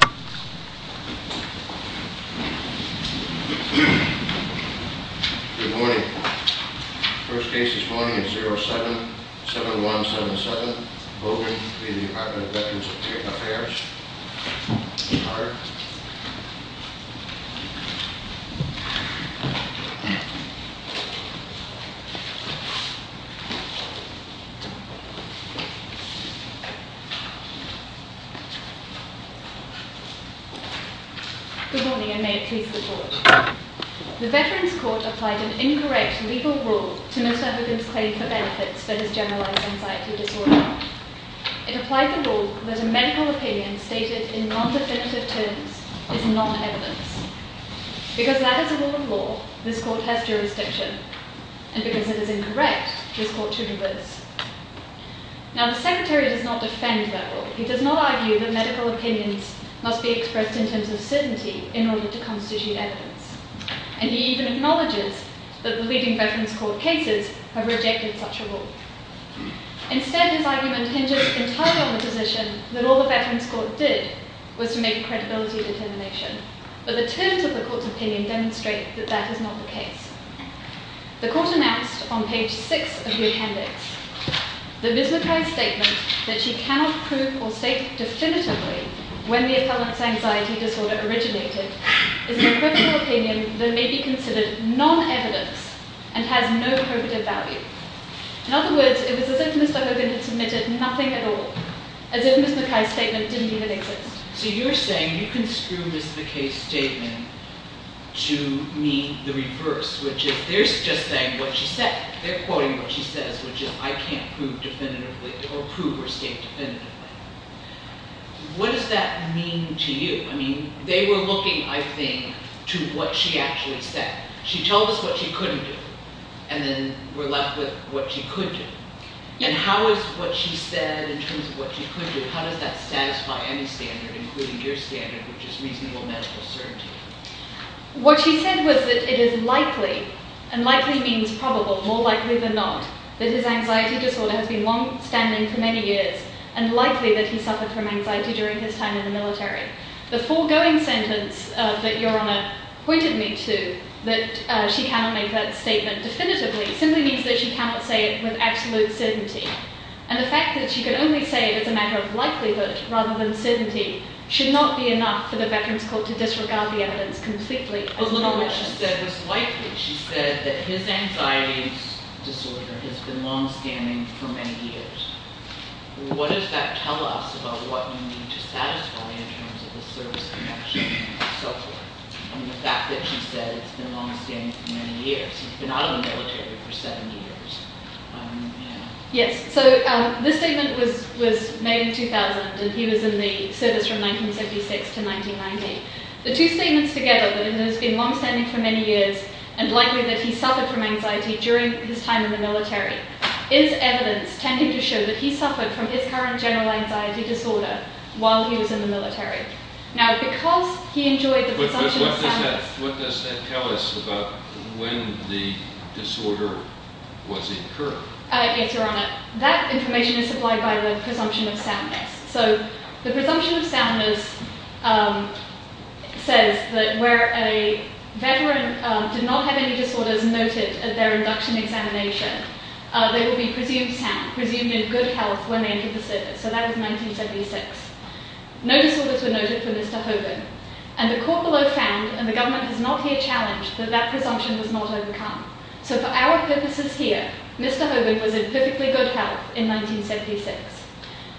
Good morning. First case this morning is 07-7177. Voting in the Department of Veterans Affairs. All right. Good morning, and may it please the Court. The Veterans Court applied an incorrect legal rule to Miss Everdeen's claim for benefits for his generalized anxiety disorder. It applied the rule that a medical opinion stated in non-definitive terms is non-evidence. Because that is a rule of law, this court has jurisdiction, and because it is incorrect, this court should reverse. Now, the Secretary does not defend that rule. He does not argue that medical opinions must be expressed in terms of certainty in order to constitute evidence. And he even acknowledges that the leading Veterans Court cases have rejected such a rule. Instead, his argument hinges entirely on the position that all the Veterans Court did was to make a credibility determination. But the terms of the Court's opinion demonstrate that that is not the case. The Court announced on page 6 of the appendix that Ms. McKay's statement that she cannot prove or state definitively when the intolerance anxiety disorder originated is an equivocal opinion that may be considered non-evidence and has no probative value. In other words, it was as if Mr. Hogan had submitted nothing at all, as if Ms. McKay's statement didn't even exist. So you're saying you can screw Ms. McKay's statement to mean the reverse, which is they're just saying what she said. They're quoting what she says, which is I can't prove definitively or prove or state definitively. What does that mean to you? I mean, they were looking, I think, to what she actually said. She told us what she couldn't do, and then we're left with what she could do. And how is what she said in terms of what she could do, how does that satisfy any standard, including your standard, which is reasonable medical certainty? What she said was that it is likely, and likely means probable, more likely than not, that his anxiety disorder has been longstanding for many years and likely that he suffered from anxiety during his time in the military. The foregoing sentence that Your Honor pointed me to, that she cannot make that statement definitively, simply means that she cannot say it with absolute certainty. And the fact that she can only say it as a matter of likelihood rather than certainty should not be enough for the Veterans Court to disregard the evidence completely. But look at what she said was likely. She said that his anxiety disorder has been longstanding for many years. What does that tell us about what you need to satisfy in terms of the service connection and so forth? The fact that she said it's been longstanding for many years. He's been out of the military for 70 years. Yes, so this statement was made in 2000, and he was in the service from 1976 to 1990. The two statements together, that it has been longstanding for many years, and likely that he suffered from anxiety during his time in the military, is evidence tending to show that he suffered from his current general anxiety disorder while he was in the military. Now, because he enjoyed the presumption of soundness... But what does that tell us about when the disorder was incurred? Yes, Your Honor, that information is supplied by the presumption of soundness. So the presumption of soundness says that where a Veteran did not have any disorders noted at their induction examination, they would be presumed sound, presumed in good health when they entered the service. So that was 1976. No disorders were noted for Mr. Hogan. And the court below found, and the government has not here challenged, that that presumption was not overcome. So for our purposes here, Mr. Hogan was in perfectly good health in 1976.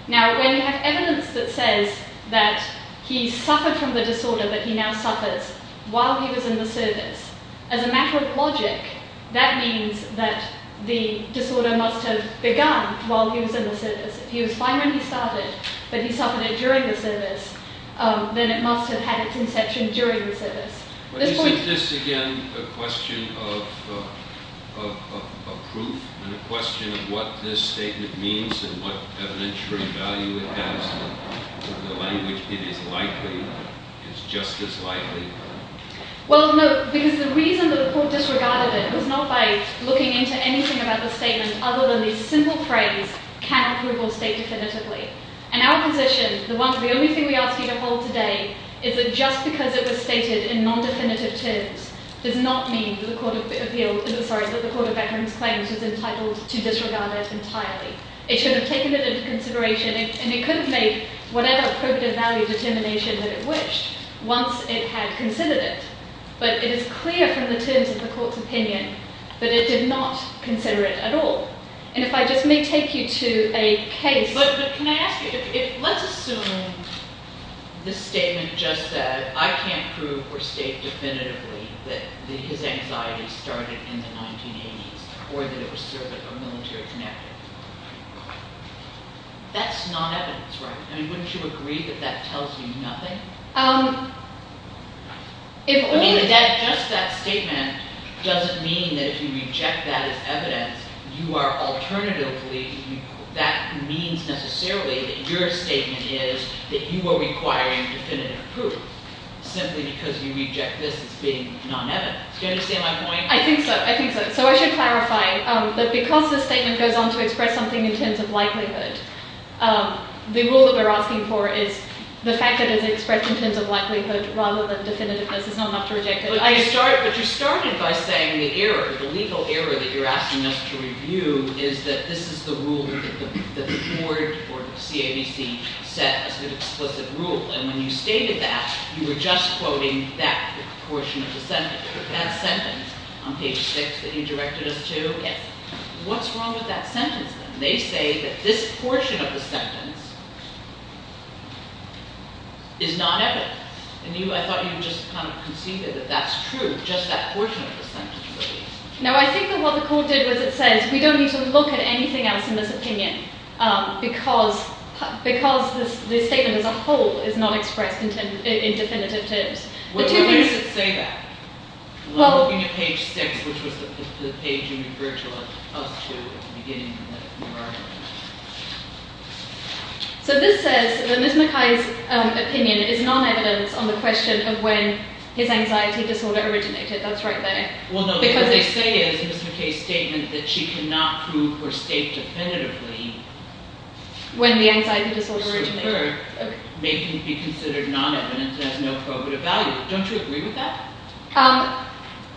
Now, when you have evidence that says that he suffered from the disorder that he now suffers while he was in the service, as a matter of logic, that means that the disorder must have begun while he was in the service. If he was fine when he started, but he suffered it during the service, then it must have had its inception during the service. But isn't this, again, a question of proof and a question of what this statement means and what evidentiary value it has to the language it is likely, is just as likely? Well, no, because the reason that the court disregarded it was not by looking into anything about the statement other than the simple phrase, can approval state definitively? In our position, the only thing we ask you to hold today is that just because it was stated in non-definitive terms does not mean that the Court of Veterans Claims was entitled to disregard it entirely. It should have taken it into consideration, and it could have made whatever appropriate value determination that it wished once it had considered it. But it is clear from the terms of the court's opinion that it did not consider it at all. And if I just may take you to a case... But can I ask you, let's assume this statement just said, I can't prove or state definitively that his anxiety started in the 1980s or that it was served at a military connective. That's not evidence, right? I mean, wouldn't you agree that that tells you nothing? I mean, just that statement doesn't mean that if you reject that as evidence, you are alternatively... that means necessarily that your statement is that you are requiring definitive proof simply because you reject this as being non-evidence. Do you understand my point? I think so. I think so. So I should clarify that because the statement goes on to express something in terms of likelihood, the rule that we're asking for is the fact that it's expressed in terms of likelihood rather than definitiveness is not enough to reject it. But you started by saying the error, the legal error that you're asking us to review is that this is the rule that the board or the CABC set as the explicit rule. And when you stated that, you were just quoting that portion of the sentence, that sentence on page 6 that you directed us to. Yes. What's wrong with that sentence then? They say that this portion of the sentence is not evidence. And I thought you just kind of conceded that that's true, just that portion of the sentence really. No, I think that what the court did was it says we don't need to look at anything else in this opinion because the statement as a whole is not expressed in definitive terms. Why does it say that? I'm looking at page 6, which was the page you referred to us to at the beginning of the argument. So this says that Ms. McKay's opinion is non-evidence on the question of when his anxiety disorder originated. That's right there. Well, no, what they say is Ms. McKay's statement that she cannot prove her state definitively… When the anxiety disorder originated. …may be considered non-evidence and has no probative value. Don't you agree with that?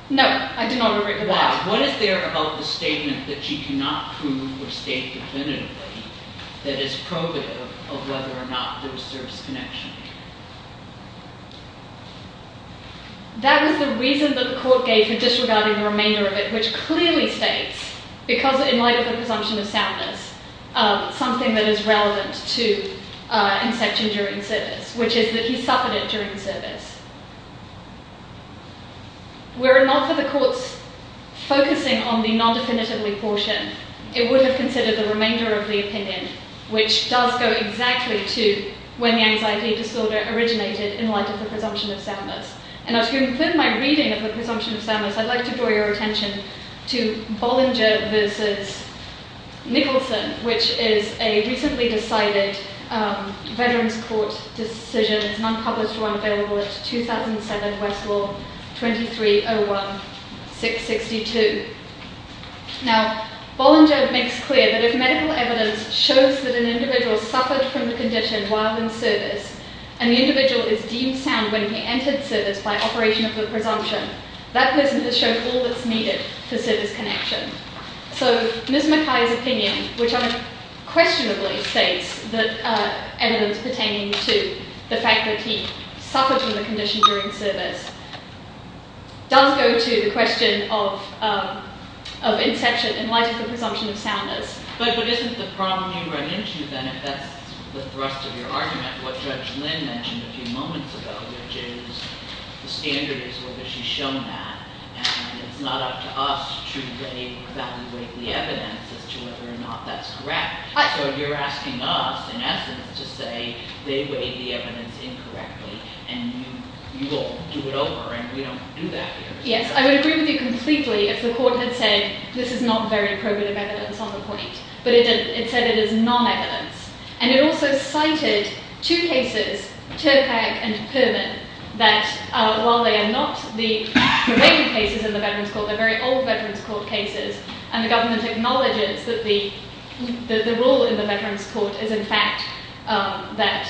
No, I do not agree with that. Why? What is there about the statement that she cannot prove her state definitively that is probative of whether or not there was service connection? That was the reason that the court gave for disregarding the remainder of it, which clearly states, because in light of the presumption of soundness, something that is relevant to inception during service, which is that he suffered it during service. Were it not for the court's focusing on the non-definitively portion, it would have considered the remainder of the opinion, which does go exactly to when the anxiety disorder originated in light of the presumption of soundness. Now, to conclude my reading of the presumption of soundness, I'd like to draw your attention to Bollinger v. Nicholson, which is a recently decided Veterans Court decision. It's an unpublished one available at 2007 Westwall 2301-662. Now, Bollinger makes clear that if medical evidence shows that an individual suffered from the condition while in service, and the individual is deemed sound when he entered service by operation of the presumption, that person has shown all that's needed for service connection. So Ms. Mackay's opinion, which unquestionably states that evidence pertaining to the fact that he suffered from the condition during service, does go to the question of inception in light of the presumption of soundness. But isn't the problem you run into, then, if that's the thrust of your argument, what Judge Lynn mentioned a few moments ago, which is the standard is whether she's shown that, and it's not up to us to evaluate the evidence as to whether or not that's correct. So you're asking us, in essence, to say they weighed the evidence incorrectly, and you will do it over, and we don't do that here. Yes, I would agree with you completely if the court had said this is not very probative evidence on the point, but it said it is non-evidence. And it also cited two cases, Turpac and Perman, that while they are not the related cases in the Veterans Court, they're very old Veterans Court cases, and the government acknowledges that the rule in the Veterans Court is, in fact, that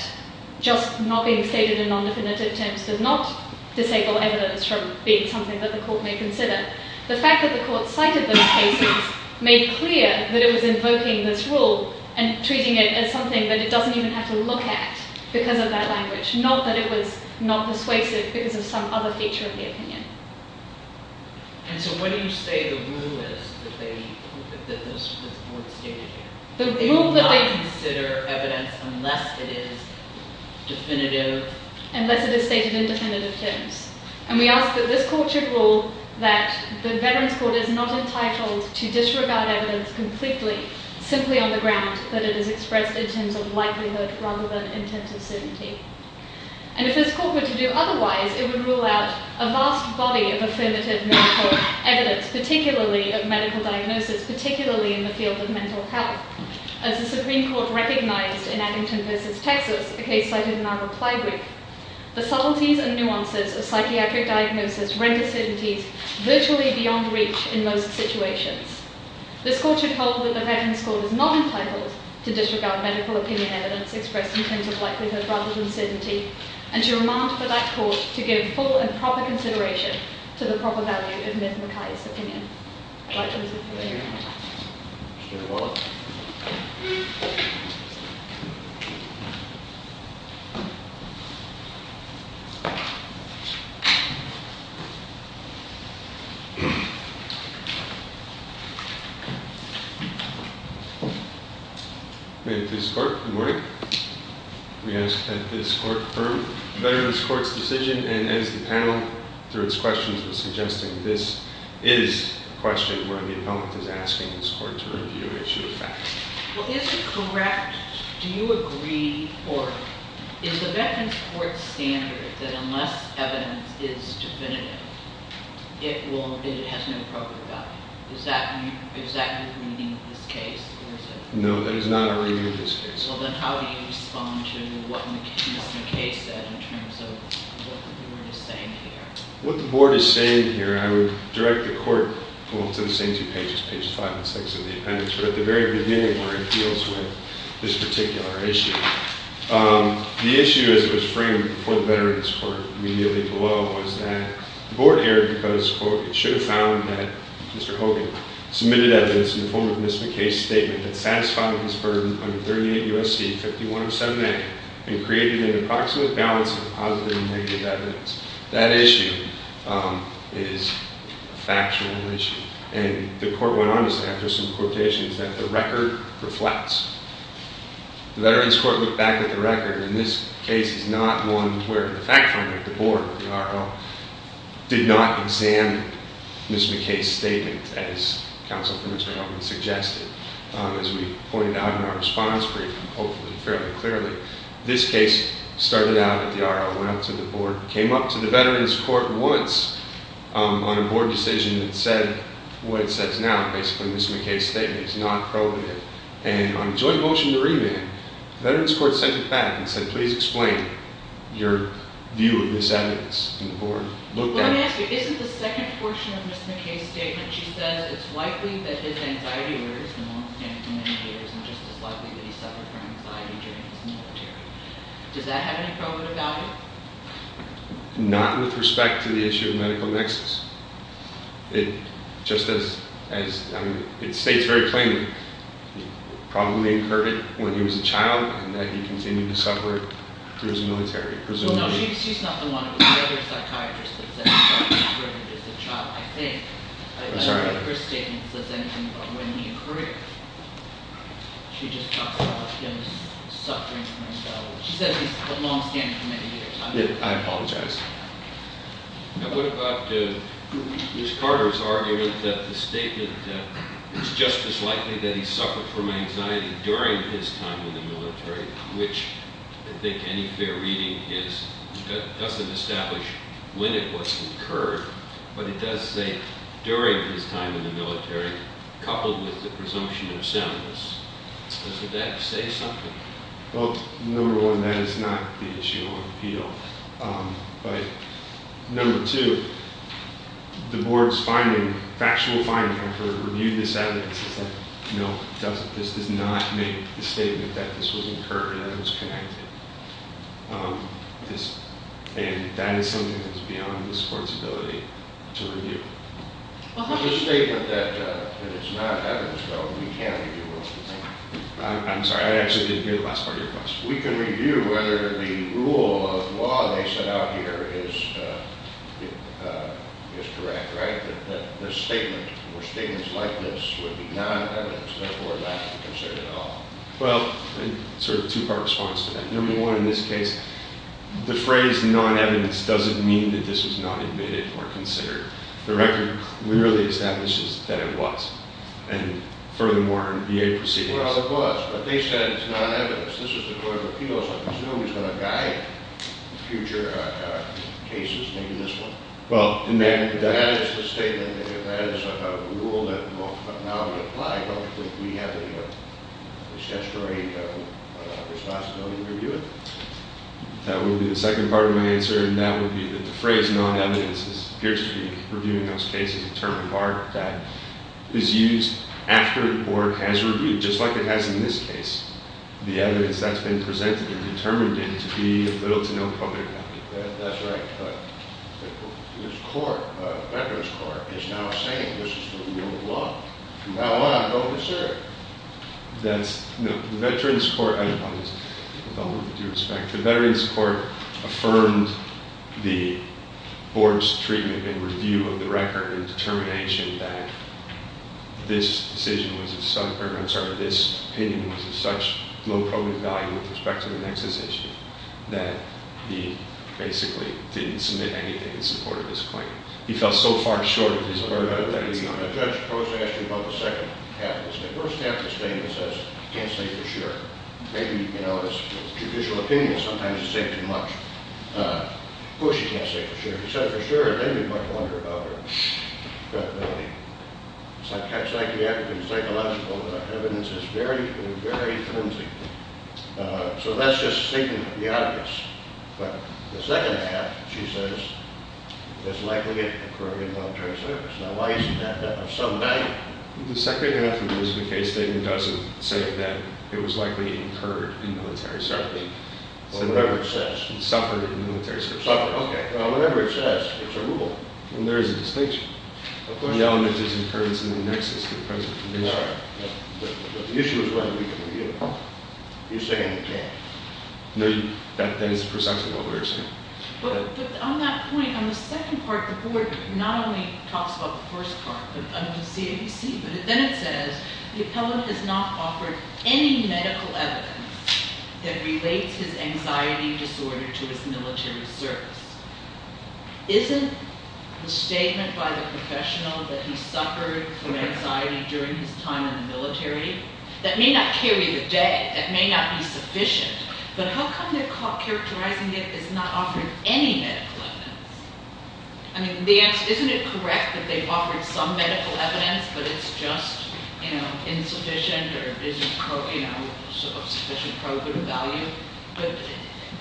just not being stated in non-definitive terms does not disable evidence from being something that the court may consider. The fact that the court cited those cases made clear that it was invoking this rule and treating it as something that it doesn't even have to look at because of that language, not that it was not persuasive because of some other feature of the opinion. And so what do you say the rule is that this was not stated here? The rule that they— They would not consider evidence unless it is definitive. Unless it is stated in definitive terms. And we ask that this court should rule that the Veterans Court is not entitled to disregard evidence completely simply on the ground that it is expressed in terms of likelihood rather than intent of certainty. And if this court were to do otherwise, it would rule out a vast body of affirmative medical evidence, particularly of medical diagnosis, particularly in the field of mental health. As the Supreme Court recognized in Addington v. Texas, a case cited in our reply week, the subtleties and nuances of psychiatric diagnosis render certainties virtually beyond reach in most situations. This court should hold that the Veterans Court is not entitled to disregard medical opinion evidence expressed in terms of likelihood rather than certainty, and to demand for that court to give full and proper consideration to the proper value of Ms. Mackay's opinion. Questions? Mr. Wallach? Good morning. We ask that this court confirm the Veterans Court's decision. And as the panel, through its questions, was suggesting, this is a question where the appellant is asking this court to review and issue a fact. Well, is it correct—do you agree or—is the Veterans Court's standard that unless evidence is definitive, it will—it has no proper value? Is that your—is that your reading of this case? No, that is not our reading of this case. Well, then how do you respond to what Mr. Mackay said in terms of what the board is saying here? What the board is saying here, I would direct the court to the same two pages, pages 5 and 6 of the appendix, but at the very beginning where it deals with this particular issue. The issue, as it was framed before the Veterans Court, immediately below, was that the board erred because, quote, it should have found that Mr. Hogan submitted evidence in the form of Ms. Mackay's statement that satisfied his burden under 38 U.S.C. 5107a and created an approximate balance of positive and negative evidence. That issue is a factional issue. And the court went on to say, I have just some quotations, that the record reflects. The Veterans Court looked back at the record, and this case is not one where the fact finder, the board, the R.O., did not examine Ms. Mackay's statement as counsel for Mr. Hogan suggested. As we pointed out in our response brief, and hopefully fairly clearly, this case started out at the R.O., went up to the board, came up to the Veterans Court once on a board decision that said what it says now. Basically, Ms. Mackay's statement is not probative. And on joint motion to remand, the Veterans Court sent it back and said, please explain your view of this evidence. And the board looked at it. Let me ask you, isn't the second portion of Ms. Mackay's statement, she says it's likely that his anxiety worries him and won't stand up to many haters and just as likely that he suffered from anxiety during his military. Does that have any probative value? Not with respect to the issue of medical nexus. It states very plainly, probably incurred it when he was a child and that he continued to suffer through his military, presumably. Well, no, she's not the one. It was the other psychiatrist that said he suffered from it as a child, I think. I'm sorry. I don't know if her statement says anything about when he occurred. She just talks about him suffering from anxiety. She says he's lost him for many years. I apologize. And what about Ms. Carter's argument that the statement that it's just as likely that he suffered from anxiety during his time in the military, which I think any fair reading doesn't establish when it was incurred, but it does say during his time in the military, coupled with the presumption of soundness. Does that say something? Well, number one, that is not the issue on appeal. But number two, the board's finding, factual finding, after it reviewed this evidence, is that no, this does not make the statement that this was incurred or that it was connected. And that is something that is beyond this court's ability to review. Well, there's a statement that it's not evidence, though, that we can't review. I'm sorry. I actually didn't hear the last part of your question. We can review whether the rule of law they set out here is correct, right, that this statement or statements like this would be non-evidence, therefore not to be considered at all. Well, sort of two-part response to that. Number one, in this case, the phrase non-evidence doesn't mean that this was not admitted or considered. The record clearly establishes that it was. And furthermore, in VA proceedings. Well, it was. But they said it's non-evidence. This is the court of appeals. I presume it's going to guide future cases, maybe this one. Well, and that is the statement. That is a rule that now we apply. I don't think we have any statutory responsibility to review it. That would be the second part of my answer. And that would be that the phrase non-evidence appears to be reviewing those cases, a term of art that is used after the board has reviewed, just like it has in this case, the evidence that's been presented and determined it to be of little to no public value. That's right. But this court, Veterans Court, is now saying this is the rule of law. Now what? I'm going to serve. That's, no, the Veterans Court, I apologize, with all due respect, the Veterans Court affirmed the board's treatment and review of the record and determination that this opinion was of such low public value with respect to the Nexus issue that he basically didn't submit anything in support of his claim. He fell so far short of his order that he's not a judge. The judge proposed to ask you about the second half of the statement. The first half of the statement says he can't say for sure. Maybe, you know, it's judicial opinion. Sometimes you say too much. Of course you can't say for sure. But if you say for sure, it may be much longer of a credibility. Psychologically and psychologically, the evidence is very, very flimsy. So that's just speaking to the obvious. But the second half, she says, is likely to occur in military service. Now why isn't that there some day? The second half of the case statement doesn't say that it was likely incurred in military service. Whatever it says. Suffered in military service. Suffered, okay. Well, whatever it says, it's a rule. And there is a distinction. Of course there is. The element is incurrence in the Nexus to the present condition. All right. But the issue is whether we can review it. You're saying we can't. No, that is precisely what we're saying. But on that point, on the second part, the board not only talks about the first part, under the CABC, but then it says the appellant has not offered any medical evidence that relates his anxiety disorder to his military service. Isn't the statement by the professional that he suffered from anxiety during his time in the military, that may not carry the day, that may not be sufficient, but how come they're characterizing it as not offering any medical evidence? I mean, isn't it correct that they've offered some medical evidence, but it's just, you know, insufficient or isn't, you know, of sufficient value? But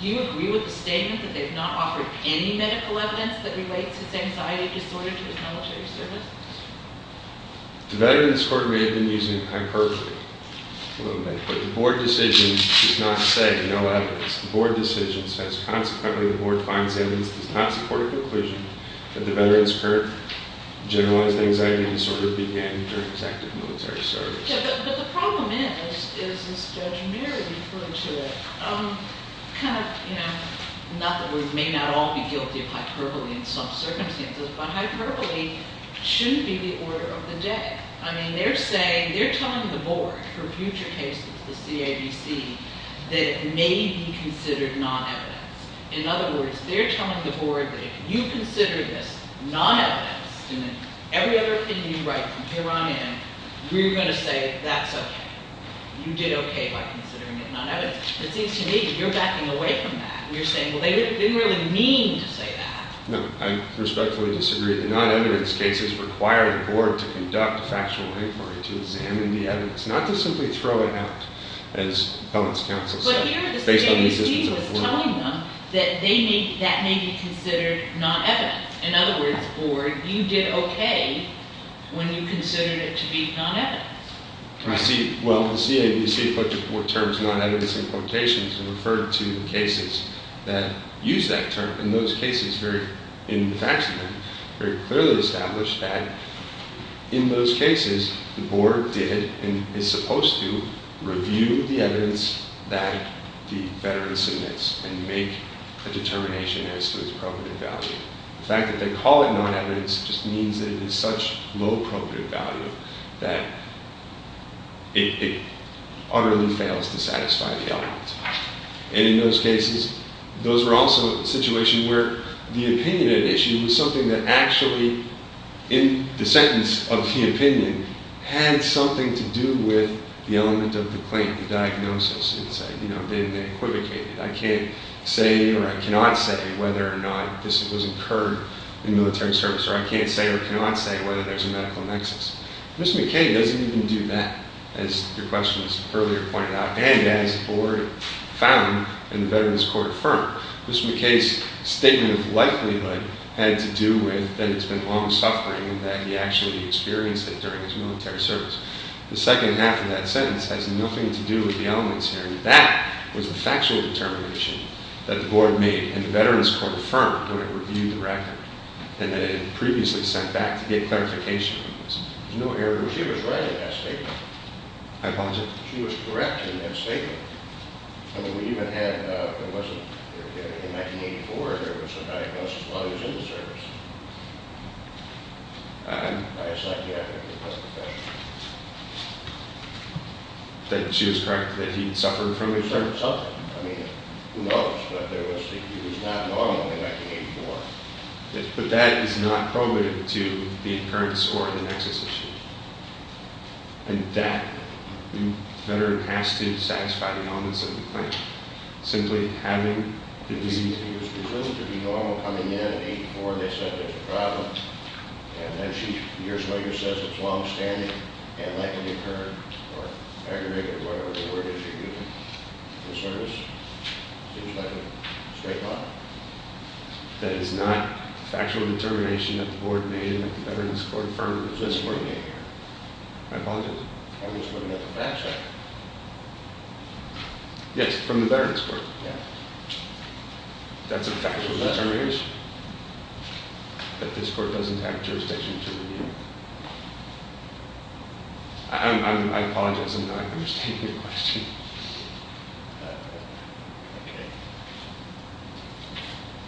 do you agree with the statement that they've not offered any medical evidence that relates his anxiety disorder to his military service? The Veterans Court may have been using hyperbole a little bit, but the board decision does not say no evidence. The board decision says, consequently, the board finds evidence that does not support a conclusion that the Veterans Court generalized anxiety disorder began during his active military service. Yeah, but the problem is, as Judge Mary referred to it, kind of, you know, not that we may not all be guilty of hyperbole in some circumstances, but hyperbole should be the order of the day. I mean, they're saying, they're telling the board for future cases of the CABC that it may be considered non-evidence. In other words, they're telling the board that if you consider this non-evidence, and then every other thing you write from here on in, we're going to say that's okay. You did okay by considering it non-evidence. It seems to me that you're backing away from that. You're saying, well, they didn't really mean to say that. No, I respectfully disagree. The non-evidence cases require the board to conduct a factual inquiry to examine the evidence, not to simply throw it out, as comments counsel said. So here the CABC was telling them that that may be considered non-evidence. In other words, the board, you did okay when you considered it to be non-evidence. Well, the CABC put the terms non-evidence in quotations and referred to the cases that use that term. In those cases, in the facts of that, very clearly established that in those cases the board did and is supposed to review the evidence that the veteran submits and make a determination as to its appropriate value. The fact that they call it non-evidence just means that it is such low appropriate value that it utterly fails to satisfy the elements. And in those cases, those were also situations where the opinion at issue was something that actually, in the sentence of the opinion, had something to do with the element of the claim, the diagnosis. It said, you know, they equivocated. I can't say or I cannot say whether or not this was incurred in military service or I can't say or cannot say whether there's a medical nexus. Mr. McKay doesn't even do that, as your questions earlier pointed out, and as the board found and the Veterans Court affirmed. Mr. McKay's statement of likelihood had to do with that it's been long-suffering that he actually experienced it during his military service. The second half of that sentence has nothing to do with the elements here. That was a factual determination that the board made and the Veterans Court affirmed when it reviewed the record and that it had previously sent back to get clarification. There's no error. She was right in that statement. I apologize? She was correct in that statement. We even had, in 1984, there was a diagnosis while he was in the service. She was correct that he suffered from it? He suffered. I mean, who knows? But he was not normal in 1984. But that is not probative to the occurrence or the nexus issue. And that, the veteran has to satisfy the elements of the claim. Simply having the disease. She was presumed to be normal coming in in 1984. They said there's a problem. And then she, years later, says it's long-standing and likely recurred or aggravated or whatever the word is she used in the service. Seems like a straight line. That is not a factual determination that the board made that the Veterans Court affirmed it was this morning. I apologize? I just want to get the facts right. Yes, from the Veterans Court. Yeah. That's a factual determination? That this court doesn't have jurisdiction to review? I apologize. I'm not understanding your question. Okay.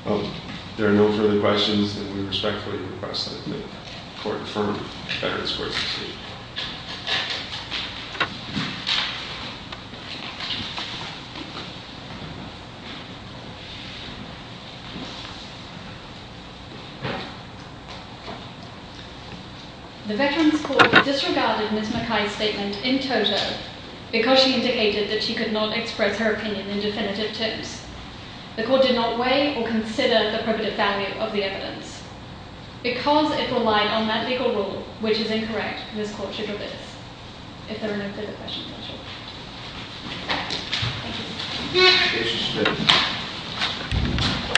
Well, there are no further questions. And we respectfully request that the court affirm Veterans Court's decision. The Veterans Court disregarded Ms. McKay's statement in toto because she indicated that she could not express her opinion in definitive terms. The court did not weigh or consider the probative value of the evidence. Because it relied on that legal rule, which is incorrect, this court should revoke it. If there are no further questions, that's all. Thank you.